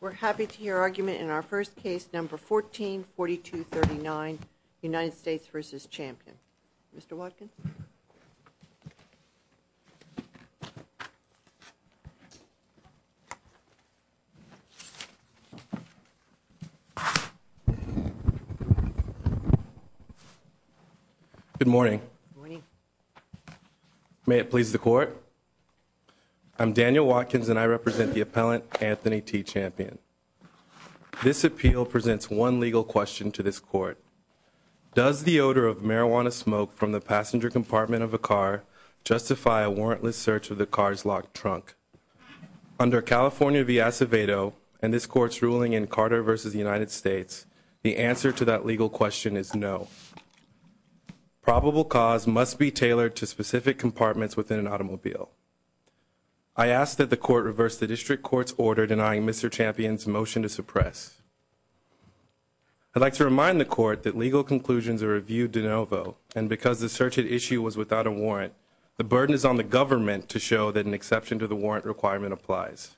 We're happy to hear argument in our first case number 144239 United States v. Champion. Mr. Watkins. Good morning. May it please the court. I'm Daniel Watkins and I represent the appellant Anthony T. Champion. This appeal presents one legal question to this court. Does the odor of marijuana smoke from the passenger compartment of a car justify a warrantless search of the car's locked trunk? Under California v. Acevedo and this court's ruling in Carter v. United States, the answer to that legal question is no. Probable cause must be tailored to specific compartments within an automobile. I ask that the court reverse the district court's order denying Mr. Champion's motion to suppress. I'd like to remind the court that legal conclusions are reviewed de novo and because the search at issue was without a warrant, the burden is on the government to show that an exception to the warrant requirement applies.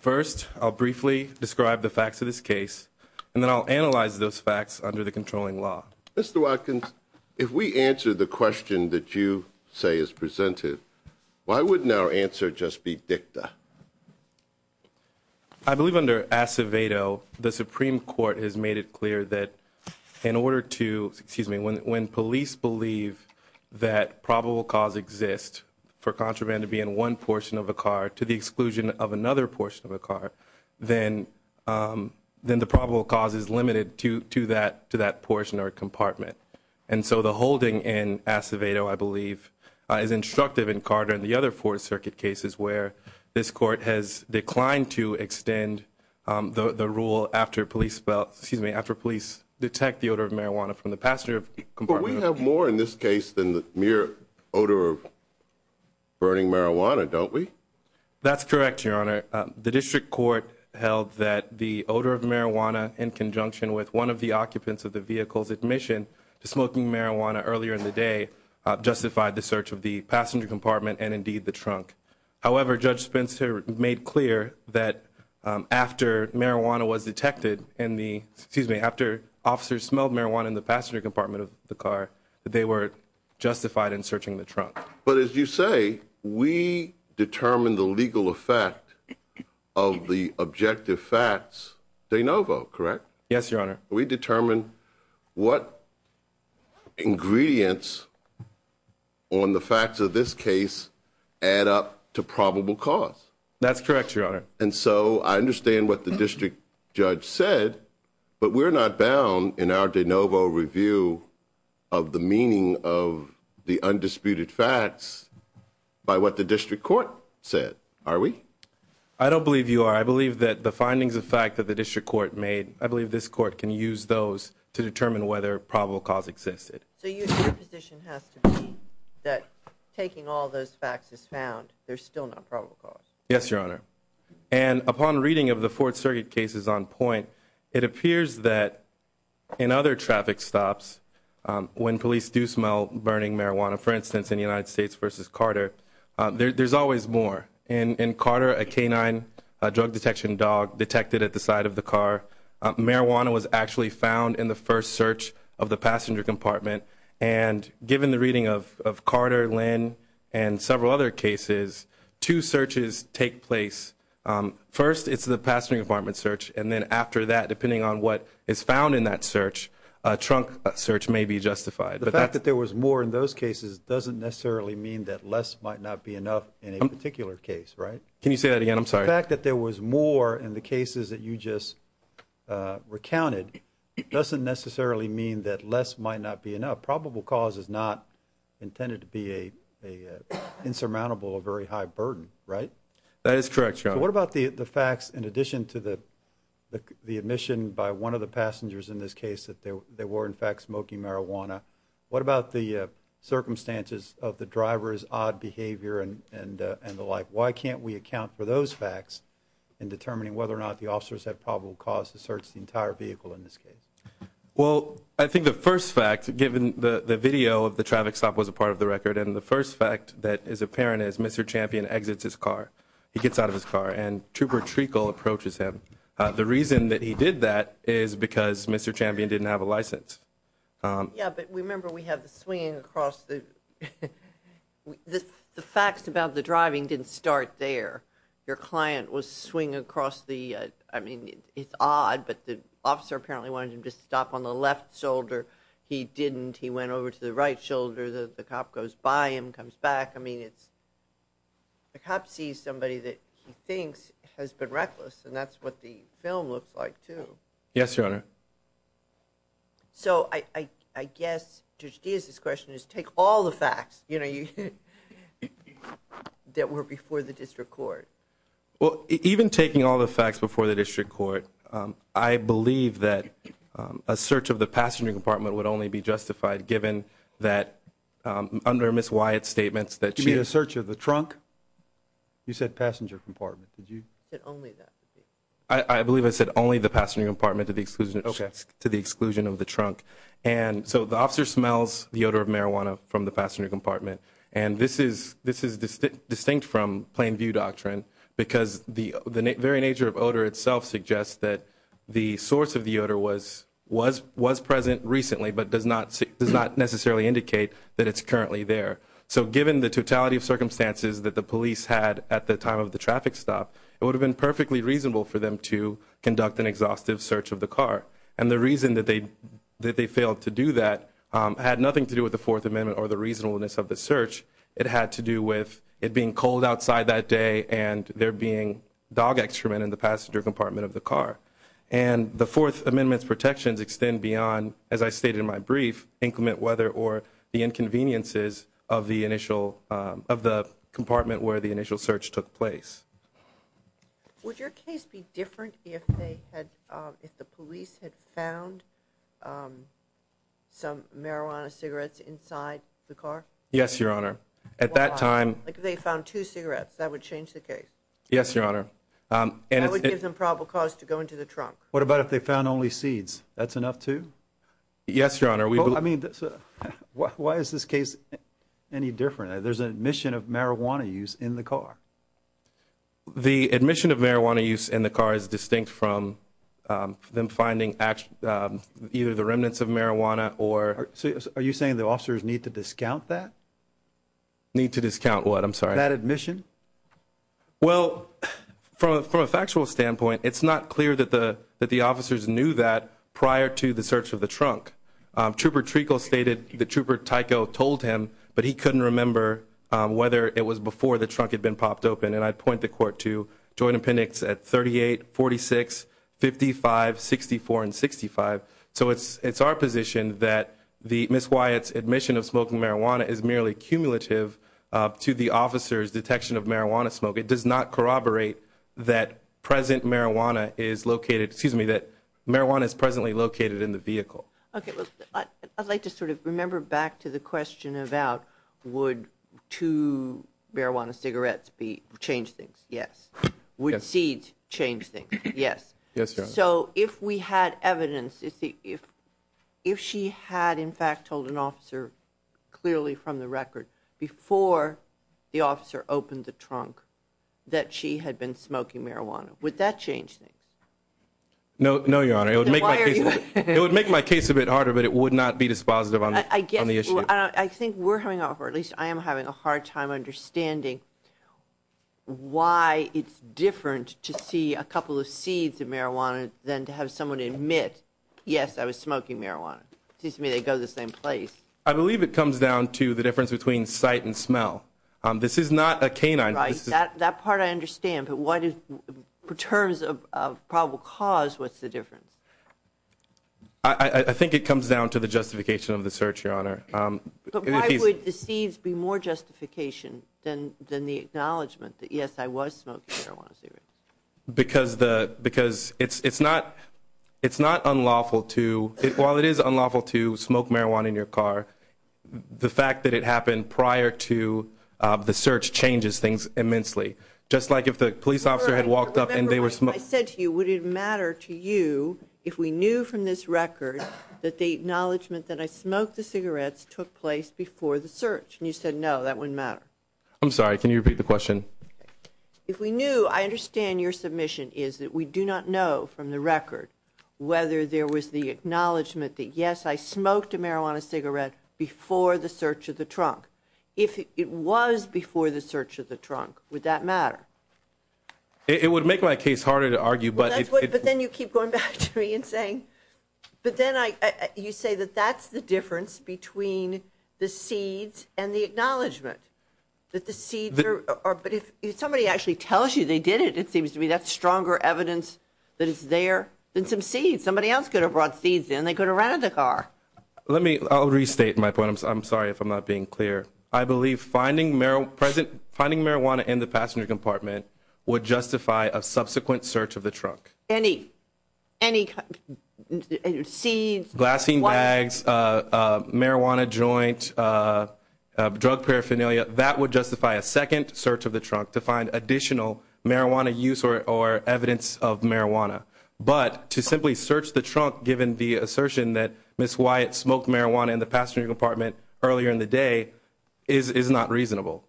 First, I'll briefly describe the facts of this case and then I'll analyze those facts under the controlling law. Mr. Watkins, if we answer the question that you say is presented, why wouldn't our answer just be dicta? I believe under Acevedo, the Supreme Court has made it clear that in order to, excuse me, when police believe that probable cause exists for contraband to be in one portion of a car to the exclusion of another portion of a car, then the probable cause is limited to that portion or compartment. And so the holding in Acevedo, I believe, is instructive in Carter and the other Fourth Circuit cases where this court has declined to extend the rule after police detect the odor of marijuana from the passenger compartment. But we have more in this case than the mere odor of burning marijuana, don't we? That's correct, Your Honor. The district court held that the odor of marijuana in conjunction with one of the occupants of the vehicle's admission to smoking marijuana earlier in the day justified the search of the passenger compartment and indeed the trunk. However, Judge Spencer made clear that after marijuana was detected in the, excuse me, after officers smelled marijuana in the passenger compartment of the car, that they were justified in searching the trunk. But as you say, we determined the legal effect of the objective facts de novo, correct? Yes, Your Honor. We determined what ingredients on the facts of this case add up to probable cause. That's correct, Your Honor. And so I understand what the district judge said, but we're not bound in our de novo review of the meaning of the undisputed facts by what the district court said, are we? I don't believe you are. I believe that the findings of fact that the district court made, I believe this court can use those to determine whether probable cause existed. So your position has to be that taking all those facts as found, there's still not probable cause? Yes, Your Honor. And upon reading of the Fourth Circuit cases on point, it appears that in other traffic stops, when police do smell burning marijuana, for instance, in the United States versus Carter, there's always more. In Carter, a canine drug detection dog detected at the side of the car, marijuana was actually found in the first search of the passenger compartment. And given the reading of Carter, Lynn, and several other cases, two searches take place. First, it's the passenger compartment search, and then after that, depending on what is found in that search, a trunk search may be justified. The fact that there was more in those cases doesn't necessarily mean that less might not be enough in a particular case, right? Can you say that again? I'm sorry. The fact that there was more in the cases that you just recounted doesn't necessarily mean that less might not be enough. Probable cause is not intended to be an insurmountable or very high burden, right? That is correct, Your Honor. What about the facts in addition to the admission by one of the passengers in this case that they were, in fact, smoking marijuana? What about the circumstances of the driver's odd behavior and the like? Why can't we account for those facts in determining whether or not the officers had probable cause to search the entire vehicle in this case? Well, I think the first fact, given the video of the traffic stop was a part of the record, and the first fact that is apparent is Mr. Champion exits his car. He gets out of his car, and Trooper Treacle approaches him. The reason that he did that is because Mr. Champion didn't have a license. Yeah, but remember we have the swinging across the... The facts about the driving didn't start there. Your client was swinging across the... I mean, it's odd, but the officer apparently wanted him to stop on the left shoulder. He didn't. He went over to the right shoulder. The cop goes by him, comes back. I mean, it's... The cop sees somebody that he thinks has been reckless, and that's what the film looks like, too. Yes, Your Honor. So I guess Judge Diaz's question is, take all the facts, you know, that were before the district court. Well, even taking all the facts before the district court, I believe that a search of the passenger compartment would only be justified given that under Ms. Wyatt's statements that she... You mean a search of the trunk? You said passenger compartment. Did you... You said only that. I believe I said only the passenger compartment to the exclusion of the trunk. And so the officer smells the odor of marijuana from the passenger compartment, and this is distinct from plain view doctrine because the very nature of odor itself suggests that the source of the odor was present recently, but does not necessarily indicate that it's currently there. So given the totality of circumstances that the police had at the time of the traffic stop, it would have been perfectly reasonable for them to conduct an exhaustive search of the car. And the reason that they failed to do that had nothing to do with the Fourth Amendment or the reasonableness of the search. It had to do with it being cold outside that day and there being dog excrement in the passenger compartment of the car. And the Fourth Amendment's protections extend beyond, as I stated in my brief, inclement weather or the inconveniences of the initial... of the compartment where the initial search took place. Would your case be different if they had... if the police had found some marijuana cigarettes inside the car? Yes, Your Honor. At that time... Like if they found two cigarettes, that would change the case? Yes, Your Honor. That would give them probable cause to go into the trunk. What about if they found only seeds? That's enough too? Yes, Your Honor. We believe... I mean, why is this case any different? There's an admission of marijuana use in the car. The admission of marijuana use in the car is distinct from them finding either the remnants of marijuana or... Are you saying the officers need to discount that? Need to discount what? I'm sorry. That admission? Well, from a factual standpoint, it's not clear that the officers knew that prior to the search of the trunk. Trooper Trekel stated that Trooper Tycho told him, but he couldn't remember whether it was before the trunk had been popped open. And I'd point the court to Joint Appendix at 38, 46, 55, 64, and 65. So it's our position that Ms. Wyatt's admission of smoking marijuana is merely cumulative to the officer's detection of marijuana smoke. It does not corroborate that present marijuana is located, excuse me, that marijuana is presently located in the vehicle. Okay. Well, I'd like to sort of remember back to the question about would two marijuana cigarettes change things? Yes. Would seeds change things? Yes. Yes, Your Honor. So if we had evidence, if she had in fact told an officer clearly from the record before the officer opened the trunk that she had been smoking marijuana, would that change things? No. No, Your Honor. It would make my case a bit harder, but it would not be dispositive on the issue. I think we're having, or at least I am having a hard time understanding why it's different to see a couple of seeds of marijuana than to have someone admit, yes, I was smoking marijuana. It seems to me they go to the same place. I believe it comes down to the difference between sight and smell. This is not a canine. Right. That part I understand, but what is, in terms of probable cause, what's the difference? I think it comes down to the justification of the search, Your Honor. But why would the seeds be more justification than the acknowledgement that, yes, I was smoking marijuana cigarettes? Because it's not unlawful to, while it is unlawful, Your Honor, the fact that it happened prior to the search changes things immensely. Just like if the police officer had walked up and they were smoking. Remember, I said to you, would it matter to you if we knew from this record that the acknowledgement that I smoked the cigarettes took place before the search? And you said, no, that wouldn't matter. I'm sorry. Can you repeat the question? If we knew, I understand your submission is that we do not know from the record whether there was the acknowledgement that, yes, I smoked a marijuana cigarette before the search of the trunk. If it was before the search of the trunk, would that matter? It would make my case harder to argue. But then you keep going back to me and saying, but then I, you say that that's the difference between the seeds and the acknowledgement that the seeds are, but if somebody actually tells you they did it, it seems to me that's the same seed. Somebody else could have brought seeds in. They could have ran out of the car. Let me, I'll restate my point. I'm sorry if I'm not being clear. I believe finding marijuana in the passenger compartment would justify a subsequent search of the trunk. Any, any seeds, glassine bags, marijuana joint, drug paraphernalia, that would justify a second search of the trunk to find additional marijuana use or, or evidence of marijuana. But to simply search the trunk given the assertion that Ms. Wyatt smoked marijuana in the passenger compartment earlier in the day is, is not reasonable.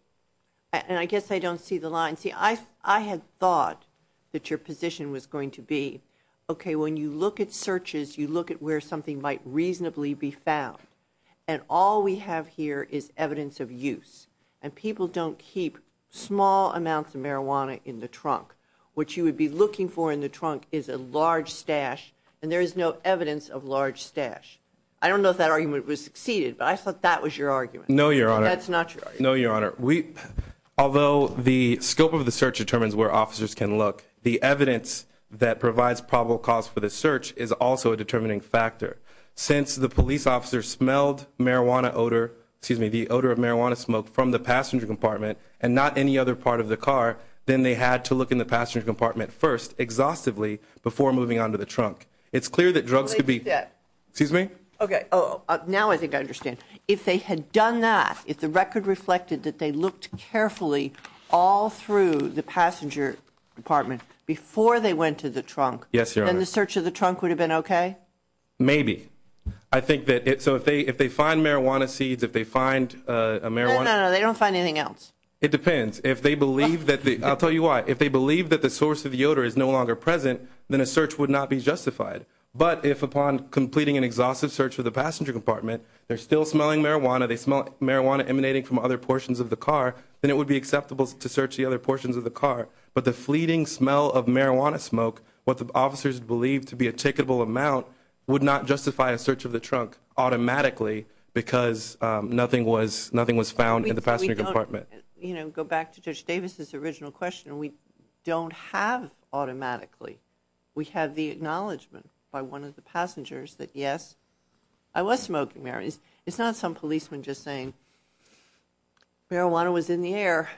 And I guess I don't see the line. See, I, I had thought that your position was going to be, okay, when you look at searches, you look at where something might reasonably be small amounts of marijuana in the trunk. What you would be looking for in the trunk is a large stash and there is no evidence of large stash. I don't know if that argument was succeeded, but I thought that was your argument. No, Your Honor. That's not your argument. No, Your Honor. We, although the scope of the search determines where officers can look, the evidence that provides probable cause for the search is also a determining factor. Since the police officer smelled marijuana odor, excuse me, the odor of marijuana smoke from the passenger compartment and not any other part of the car, then they had to look in the passenger compartment first, exhaustively, before moving on to the trunk. It's clear that drugs could be... Wait a step. Excuse me? Okay. Oh, now I think I understand. If they had done that, if the record reflected that they looked carefully all through the passenger compartment before they went to the trunk... Yes, Your Honor. ...then the search of the trunk would have been okay? Maybe. I think that it... So if they find marijuana seeds, if they find a marijuana... No, no, no. They don't find anything else. It depends. If they believe that the... I'll tell you why. If they believe that the source of the odor is no longer present, then a search would not be justified. But if upon completing an exhaustive search of the passenger compartment, they're still smelling marijuana, they smell marijuana emanating from other portions of the car, then it would be acceptable to search the other portions of the car. But the fleeting smell of marijuana smoke, what the officers believe to be a ticketable amount, would not justify a search of the trunk automatically because nothing was found in the passenger compartment. You know, go back to Judge Davis' original question. We don't have automatically. We have the acknowledgment by one of the passengers that, yes, I was smoking marijuana. It's not some policeman just saying, marijuana was in the air.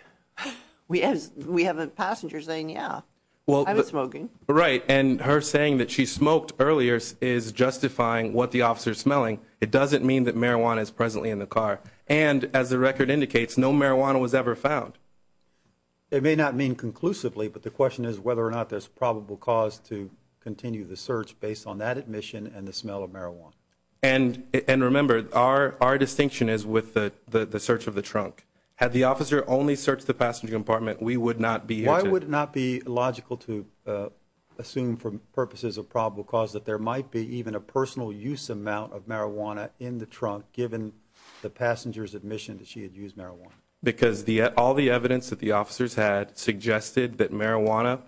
We have a passenger saying, yeah, I was smoking. Right. And her saying that she smoked earlier is justifying what the officer is smelling. It doesn't mean that marijuana is presently in the car. And as the record indicates, no marijuana was ever found. It may not mean conclusively, but the question is whether or not there's probable cause to continue the search based on that admission and the smell of marijuana. And remember, our distinction is with the search of the trunk. Had the officer only searched the passenger compartment, we would not be here to... Assume for purposes of probable cause that there might be even a personal use amount of marijuana in the trunk given the passenger's admission that she had used marijuana. Because all the evidence that the officers had suggested that marijuana,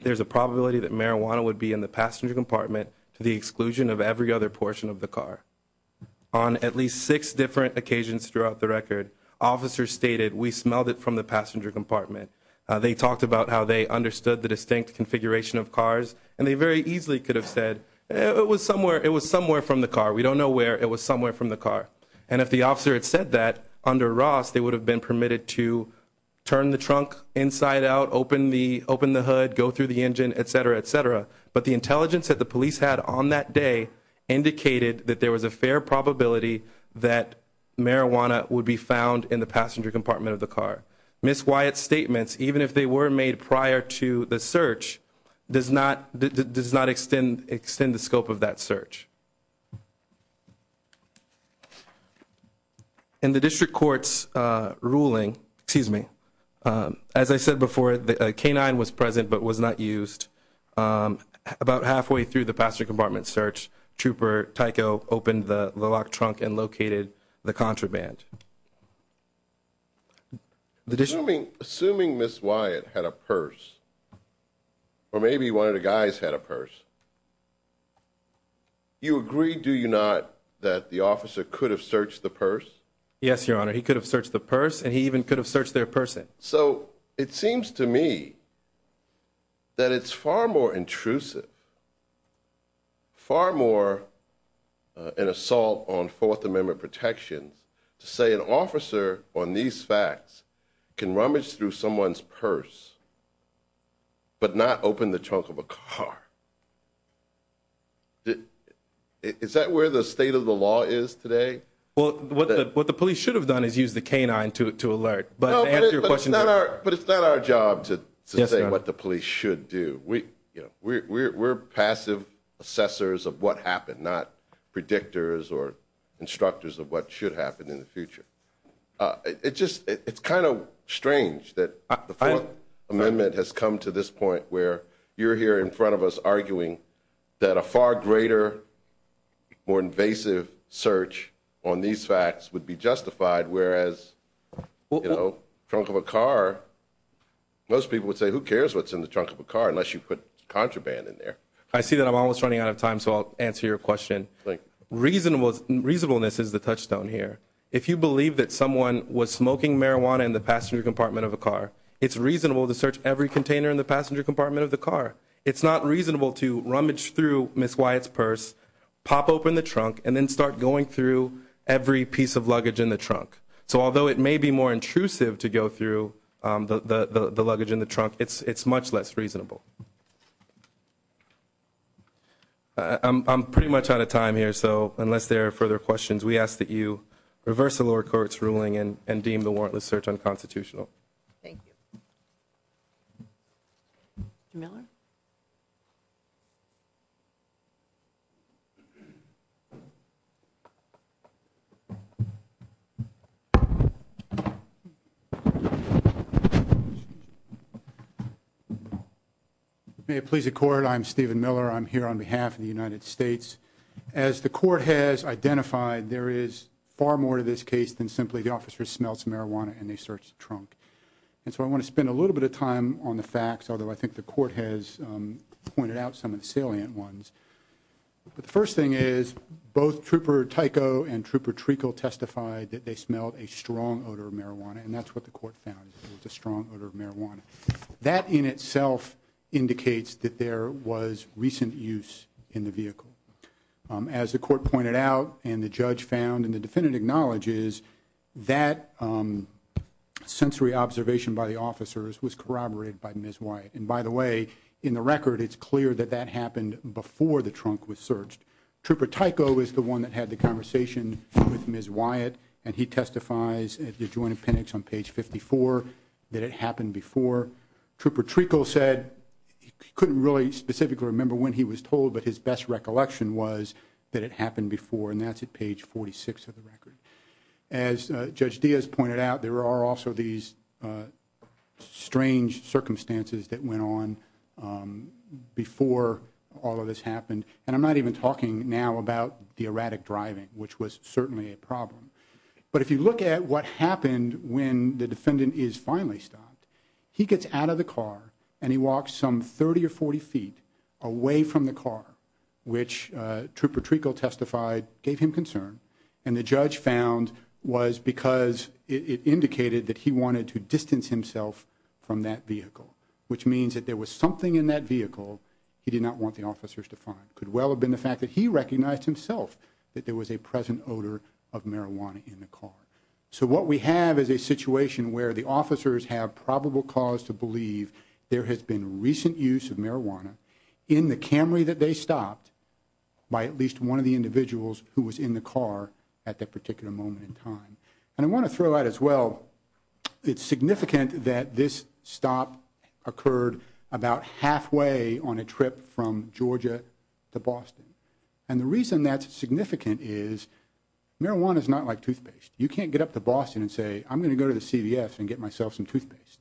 there's a probability that marijuana would be in the passenger compartment to the exclusion of every other portion of the car. On at least six different occasions throughout the record, officers stated, we smelled it from the passenger compartment. They talked about how they understood the distinct configuration of cars, and they very easily could have said, it was somewhere from the car. We don't know where, it was somewhere from the car. And if the officer had said that under Ross, they would have been permitted to turn the trunk inside out, open the hood, go through the engine, et cetera, et cetera. But the intelligence that the police had on that day indicated that there was a fair probability that marijuana would be found in the passenger compartment of the car. Ms. Wyatt's statements, even if they were made prior to the search, does not extend the scope of that search. In the district court's ruling, excuse me, as I said before, the K-9 was present but was not used. About halfway through the passenger compartment search, Trooper Tycho opened the door. Assuming Ms. Wyatt had a purse, or maybe one of the guys had a purse, you agree, do you not, that the officer could have searched the purse? Yes, Your Honor. He could have searched the purse, and he even could have searched their person. So it seems to me that it's far more intrusive, far more an assault on Fourth Amendment protections to say an officer on these facts can rummage through someone's purse, but not open the trunk of a car. Is that where the state of the law is today? What the police should have done is used the K-9 to alert. But it's not our job to say what the police should do. We're passive assessors of what should happen, not predictors or instructors of what should happen in the future. It's kind of strange that the Fourth Amendment has come to this point where you're here in front of us arguing that a far greater, more invasive search on these facts would be justified, whereas trunk of a car, most people would say who cares what's in the trunk of a car unless you put contraband in there. I see that I'm almost running out of time, so I'll answer your question. Reasonableness is the touchstone here. If you believe that someone was smoking marijuana in the passenger compartment of a car, it's reasonable to search every container in the passenger compartment of the car. It's not reasonable to rummage through Ms. Wyatt's purse, pop open the trunk, and then start going through every piece of luggage in the trunk. So although it may be more intrusive to go through the luggage in the trunk, it's much less reasonable. I'm pretty much out of time here, so unless there are further questions, we ask that you reverse the lower court's ruling and deem the warrantless search unconstitutional. May it please the Court, I'm Stephen Miller. I'm here on behalf of the United States. As the Court has identified, there is far more to this case than simply the officer smells marijuana and they search the trunk, and so I want to spend a little bit of time on the facts, although I think the Court has pointed out some of the salient ones. But the first thing is, both Trooper Tycho and Trooper Treacle testified that they smelled a strong odor of marijuana, and that's what the Court found, a strong odor of marijuana. That in itself indicates that there was recent use in the vehicle. As the Court pointed out, and the Judge found, and the Defendant acknowledges, that sensory observation by the officers was corroborated by Ms. Wyatt. And by the way, in the record, it's clear that that happened before the trunk was searched. Trooper Tycho is the one that had the conversation with Ms. Wyatt, and he testifies at the joint appendix on page 54 that it happened before. Trooper Treacle said he couldn't really specifically remember when he was told, but his best recollection was that it happened before, and that's at page 46 of the record. As Judge Diaz pointed out, there are also these strange circumstances that went on before all of this happened. And I'm not even talking now about the erratic driving, which was certainly a problem. But if you look at what happened when the Defendant is finally stopped, he gets out of the car and he walks some 30 or 40 feet away from the car, which Trooper Treacle testified gave him concern. And the Judge found was because it indicated that he wanted to distance himself from that vehicle. Which means that there was something in that vehicle he did not want the officers to find. Could well have been the fact that he recognized himself that there was a present odor of marijuana in the car. So what we have is a situation where the officers have probable cause to believe there has been recent use of marijuana in the Camry that they stopped by at least one of the individuals who was in the car at that particular moment in time. And I want to throw out as well, it's significant that this stop occurred about halfway on a trip from Georgia to Boston. And the reason that's significant is marijuana's not like toothpaste. You can't get up to Boston and say, I'm going to go to the CVS and get myself some toothpaste.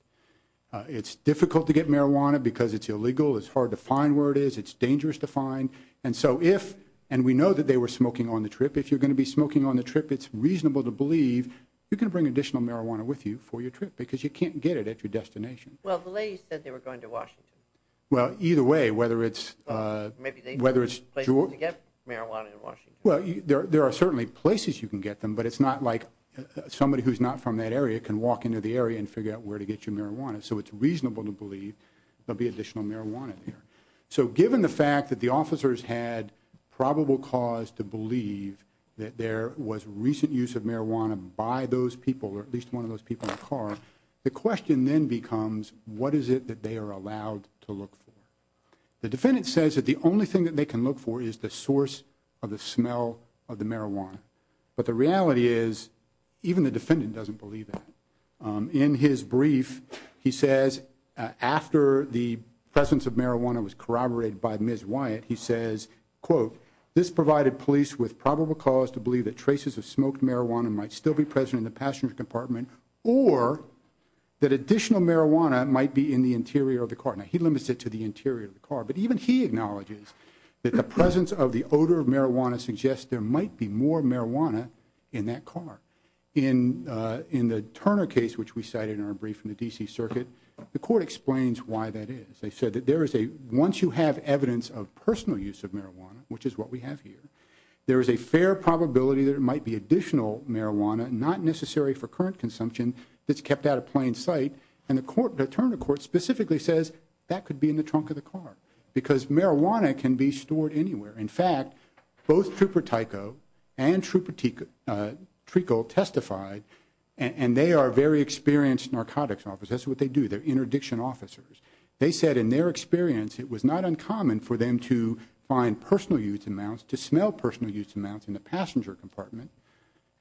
It's difficult to get marijuana because it's illegal, it's hard to find where it is, it's dangerous to find. And so if, and we know that they were smoking on the trip, if you're going to be smoking on the trip, it's reasonable to believe you can bring additional marijuana with you for your trip because you can't get it at your destination. Well, the lady said they were going to Washington. Well, either way, whether it's- Maybe they- Whether it's- Places to get marijuana in Washington. Well, there are certainly places you can get them, but it's not like somebody who's not from that area can walk into the area and figure out where to get your marijuana. So it's reasonable to believe there'll be additional marijuana there. So given the fact that the officers had probable cause to believe that there was recent use of marijuana by those people, or at least one of those people in the car. The question then becomes, what is it that they are allowed to look for? The defendant says that the only thing that they can look for is the source of the smell of the marijuana. But the reality is, even the defendant doesn't believe that. In his brief, he says, after the presence of marijuana was corroborated by Ms. Wyatt, he says, quote, This provided police with probable cause to believe that traces of smoked marijuana might still be present in the passenger compartment, or that additional marijuana might be in the interior of the car. Now, he limits it to the interior of the car. But even he acknowledges that the presence of the odor of marijuana suggests there might be more marijuana in that car. In the Turner case, which we cited in our brief in the DC circuit, the court explains why that is. They said that there is a, once you have evidence of personal use of marijuana, which is what we have here, there is a fair probability that it might be additional marijuana, not necessary for current consumption, that's kept out of plain sight. And the court, the attorney court specifically says, that could be in the trunk of the car. Because marijuana can be stored anywhere. In fact, both Trooper Tyco and Trooper Treacle testified, and they are very experienced narcotics officers, that's what they do, they're interdiction officers. They said, in their experience, it was not uncommon for them to find personal use amounts, to smell personal use amounts in the passenger compartment,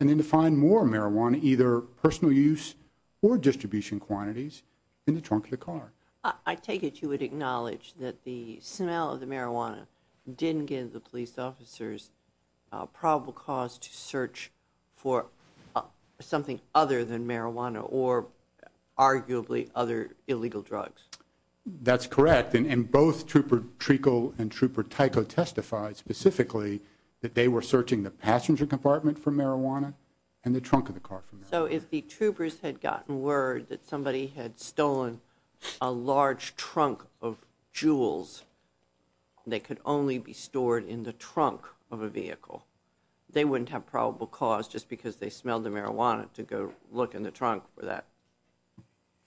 and then to find more marijuana, either personal use or distribution quantities, in the trunk of the car. I take it you would acknowledge that the smell of the marijuana didn't give the police officers a probable cause to search for something other than marijuana or arguably other illegal drugs. That's correct, and both Trooper Treacle and Trooper Tyco testified specifically that they were searching the passenger compartment for marijuana and the trunk of the car for marijuana. So if the troopers had gotten word that somebody had stolen a large trunk of jewels, they could only be stored in the trunk of a vehicle. They wouldn't have probable cause just because they smelled the marijuana to go look in the trunk for that.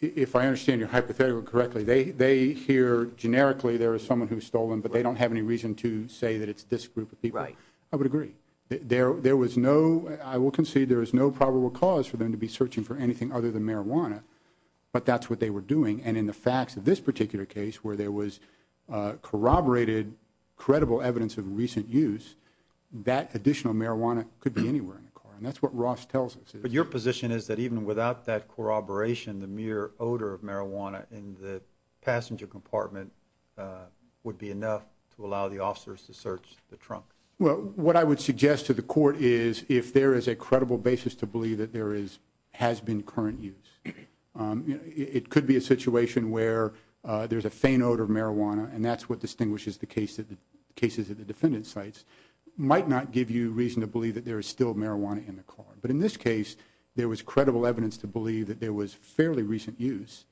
If I understand your hypothetical correctly, they hear generically there is someone who's stolen, but they don't have any reason to say that it's this group of people. Right. I would agree. There was no, I will concede there is no probable cause for them to be searching for anything other than marijuana. But that's what they were doing, and in the facts of this particular case where there was corroborated, credible evidence of recent use, that additional marijuana could be anywhere in the car. And that's what Ross tells us. But your position is that even without that corroboration, the mere odor of marijuana in the passenger compartment would be enough to allow the officers to search the trunk. Well, what I would suggest to the court is if there is a credible basis to believe that there has been current use. It could be a situation where there's a faint odor of marijuana, and that's what distinguishes the cases at the defendant's sites. Might not give you reason to believe that there is still marijuana in the car. But in this case, there was credible evidence to believe that there was fairly recent use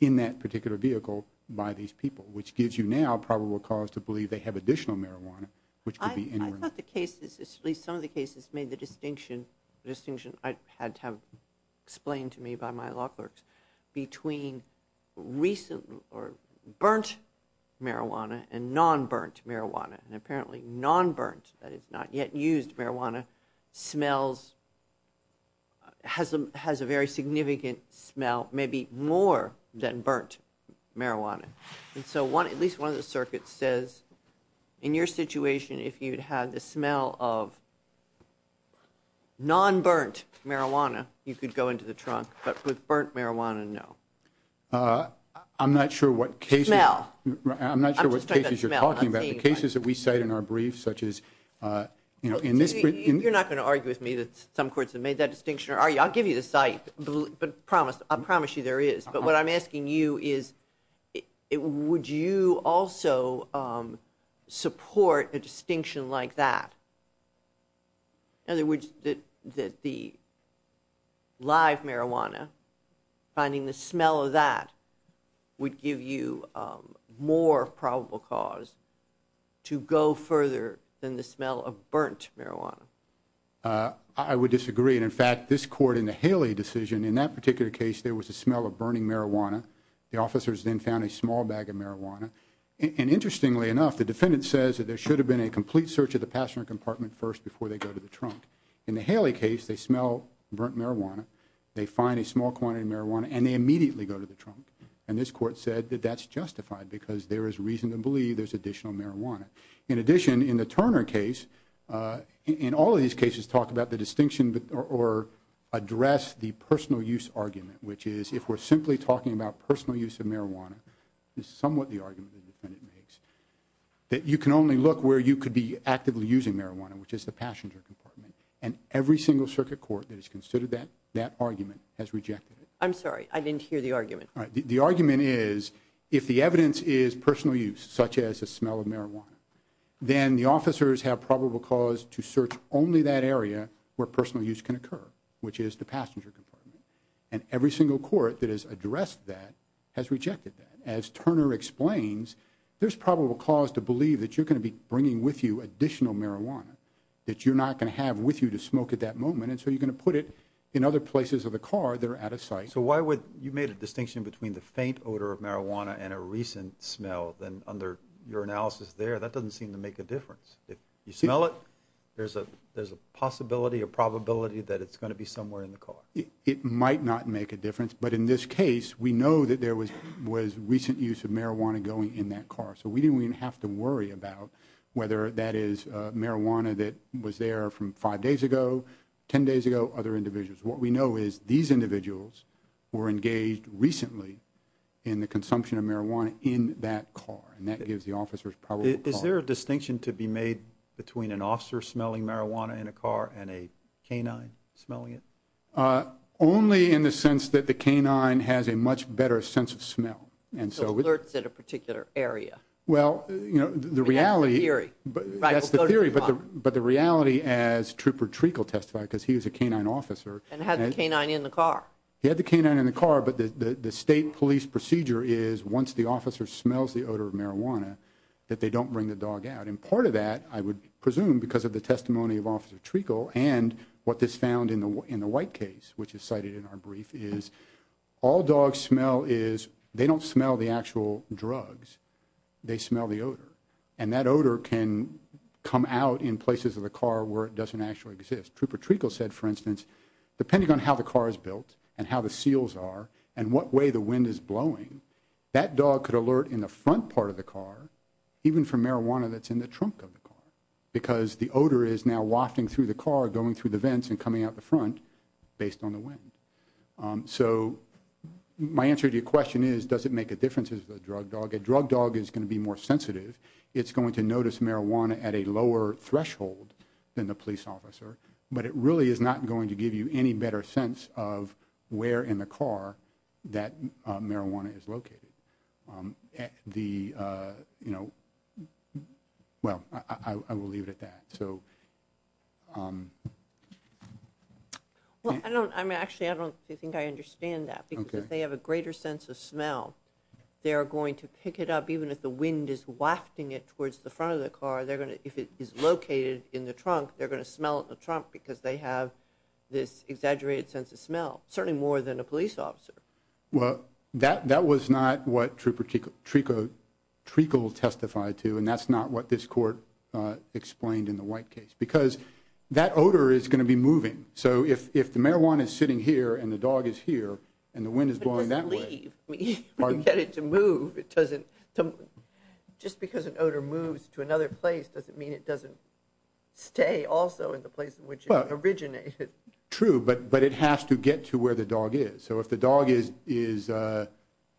in that particular vehicle by these people. Which gives you now probable cause to believe they have additional marijuana, which could be anywhere in the car. Some of the cases made the distinction I had to have explained to me by my law clerks. Between recent or burnt marijuana and non-burnt marijuana. And apparently, non-burnt, that is not yet used marijuana, has a very significant smell, maybe more than burnt marijuana. And so, at least one of the circuits says, in your situation, if you had the smell of non-burnt marijuana, you could go into the trunk, but with burnt marijuana, no. I'm not sure what cases- Smell. I'm not sure what cases you're talking about. The cases that we cite in our briefs, such as in this- You're not going to argue with me that some courts have made that distinction, are you? I'll give you the site, but I promise you there is. But what I'm asking you is, would you also support a distinction like that? In other words, that the live marijuana, finding the smell of that would give you more probable cause to go further than the smell of burnt marijuana. I would disagree, and in fact this court in the Haley decision, in that particular case, there was a smell of burning marijuana. The officers then found a small bag of marijuana. And interestingly enough, the defendant says that there should have been a complete search of the passenger compartment first before they go to the trunk. In the Haley case, they smell burnt marijuana. They find a small quantity of marijuana, and they immediately go to the trunk. And this court said that that's justified, because there is reason to believe there's additional marijuana. In addition, in the Turner case, in all of these cases, talk about the distinction or address the personal use argument, which is if we're simply talking about personal use of marijuana, is somewhat the argument the defendant makes. That you can only look where you could be actively using marijuana, which is the passenger compartment. And every single circuit court that has considered that argument has rejected it. I'm sorry, I didn't hear the argument. The argument is, if the evidence is personal use, such as the smell of marijuana, then the officers have probable cause to search only that area where personal use can occur, which is the passenger compartment. And every single court that has addressed that has rejected that. As Turner explains, there's probable cause to believe that you're going to be bringing with you additional marijuana, that you're not going to have with you to smoke at that moment. And so you're going to put it in other places of the car that are out of sight. So why would, you made a distinction between the faint odor of marijuana and a recent smell. Then under your analysis there, that doesn't seem to make a difference. If you smell it, there's a possibility, a probability that it's going to be somewhere in the car. It might not make a difference, but in this case, we know that there was recent use of marijuana going in that car. So we didn't even have to worry about whether that is marijuana that was there from five days ago, ten days ago, other individuals. What we know is these individuals were engaged recently in the consumption of marijuana in that car. And that gives the officers probable cause. Is there a distinction to be made between an officer smelling marijuana in a car and a canine smelling it? Only in the sense that the canine has a much better sense of smell. And so- So alerts at a particular area. Well, the reality- I mean, that's the theory. That's the theory, but the reality as Trooper Treacle testified, because he was a canine officer- And had the canine in the car. He had the canine in the car, but the state police procedure is once the officer smells the odor of marijuana, that they don't bring the dog out, and part of that, I would presume, because of the testimony of Officer Treacle and what is found in the white case, which is cited in our brief, is all dogs smell is, they don't smell the actual drugs, they smell the odor. And that odor can come out in places of the car where it doesn't actually exist. Trooper Treacle said, for instance, depending on how the car is built, and how the seals are, and in what way the wind is blowing, that dog could alert in the front part of the car, even for marijuana that's in the trunk of the car. Because the odor is now wafting through the car, going through the vents, and coming out the front based on the wind. So my answer to your question is, does it make a difference if it's a drug dog? A drug dog is going to be more sensitive. It's going to notice marijuana at a lower threshold than the police officer. But it really is not going to give you any better sense of where in the car that marijuana is located. The, well, I will leave it at that. So. Well, I don't, I'm actually, I don't think I understand that. Because if they have a greater sense of smell, they are going to pick it up, even if the wind is wafting it towards the front of the car, they're going to, if it is located in the trunk, they're going to smell it in the trunk because they have this exaggerated sense of smell, certainly more than a police officer. Well, that was not what Trico testified to, and that's not what this court explained in the White case, because that odor is going to be moving. So if the marijuana is sitting here, and the dog is here, and the wind is blowing that way. It doesn't leave. I mean, you get it to move, it doesn't, just because an odor moves to another place doesn't mean it doesn't stay also in the place in which it originated. True, but it has to get to where the dog is. So if the dog is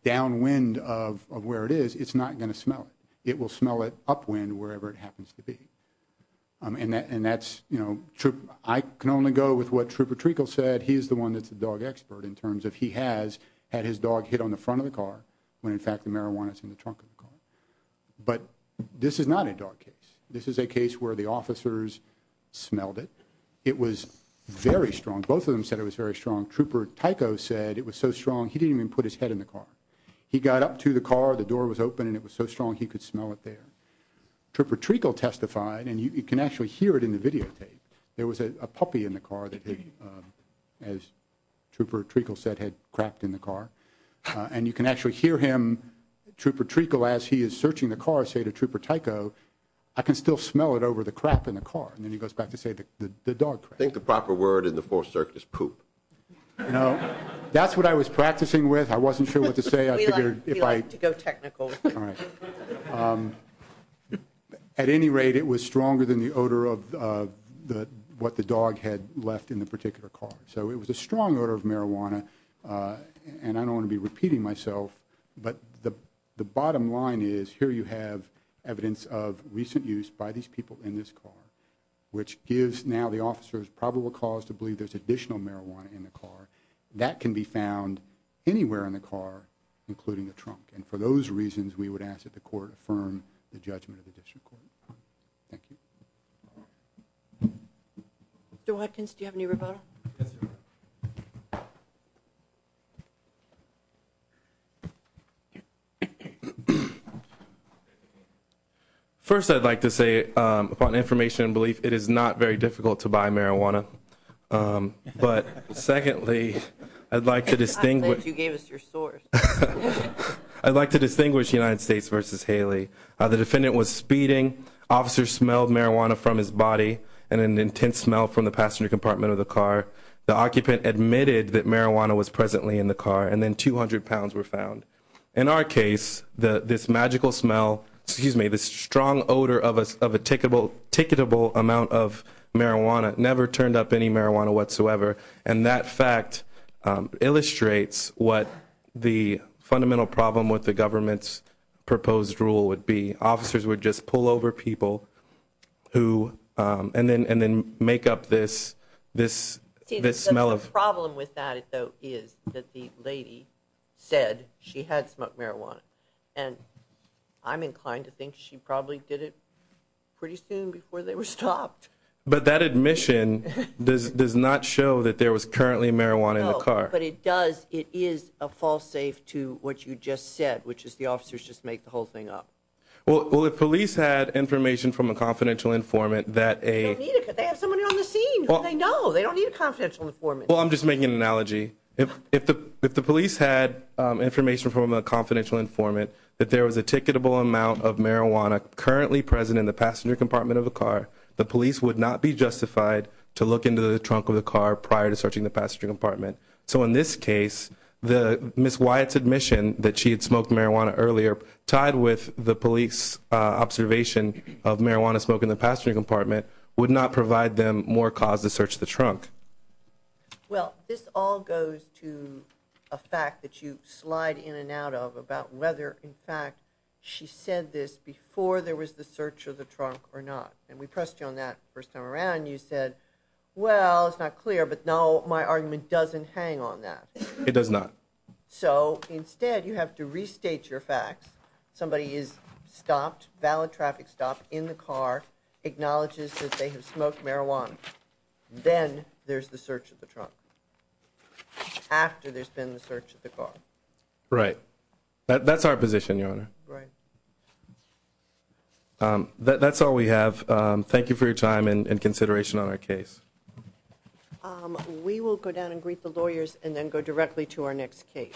downwind of where it is, it's not going to smell it. It will smell it upwind, wherever it happens to be, and that's true. I can only go with what Trooper Trico said, he is the one that's the dog expert in terms of he has had his dog hit on the front of the car when in fact the marijuana is in the trunk of the car. But this is not a dog case. This is a case where the officers smelled it. It was very strong. Both of them said it was very strong. Trooper Tycho said it was so strong he didn't even put his head in the car. He got up to the car, the door was open, and it was so strong he could smell it there. Trooper Trico testified, and you can actually hear it in the video tape. There was a puppy in the car that he, as Trooper Trico said, had crapped in the car. And you can actually hear him, Trooper Trico, as he is searching the car, say to Trooper Tycho, I can still smell it over the crap in the car, and then he goes back to say the dog crap. I think the proper word in the fourth circuit is poop. That's what I was practicing with. I wasn't sure what to say. We like to go technical. At any rate, it was stronger than the odor of what the dog had left in the particular car. So it was a strong odor of marijuana, and I don't want to be repeating myself. But the bottom line is, here you have evidence of recent use by these people in this car, which gives now the officers probable cause to believe there's additional marijuana in the car. That can be found anywhere in the car, including the trunk. And for those reasons, we would ask that the court affirm the judgment of the district court. Thank you. Do I, do you have any rebuttal? Yes, ma'am. First, I'd like to say, upon information and belief, it is not very difficult to buy marijuana. But secondly, I'd like to distinguish- I thought you gave us your source. I'd like to distinguish United States versus Haley. The defendant was speeding, officers smelled marijuana from his body, and an intense smell from the passenger compartment of the car. The occupant admitted that marijuana was presently in the car, and then 200 pounds were found. In our case, this magical smell, excuse me, this strong odor of a ticketable amount of marijuana never turned up any marijuana whatsoever. And that fact illustrates what the fundamental problem with the government's proposed rule would be. Officers would just pull over people who, and then make up this smell of- See, the problem with that, though, is that the lady said she had smoked marijuana. And I'm inclined to think she probably did it pretty soon before they were stopped. But that admission does not show that there was currently marijuana in the car. No, but it does, it is a false safe to what you just said, which is the officers just make the whole thing up. Well, if police had information from a confidential informant that a- They don't need it because they have somebody on the scene who they know. They don't need a confidential informant. Well, I'm just making an analogy. If the police had information from a confidential informant that there was a ticketable amount of marijuana currently present in the passenger compartment of a car, the police would not be justified to look into the trunk of the car prior to searching the passenger compartment. So in this case, Ms. Wyatt's admission that she had smoked marijuana earlier, tied with the police observation of marijuana smoke in the passenger compartment, would not provide them more cause to search the trunk. Well, this all goes to a fact that you slide in and out of about whether, in fact, she said this before there was the search of the trunk or not. And we pressed you on that the first time around. You said, well, it's not clear, but no, my argument doesn't hang on that. It does not. So instead, you have to restate your facts. Somebody is stopped, valid traffic stop, in the car, acknowledges that they have smoked marijuana. Then there's the search of the trunk. After there's been the search of the car. Right. That's our position, Your Honor. That's all we have. Thank you for your time and consideration on our case. We will go down and greet the lawyers and then go directly to our next case. Good morning.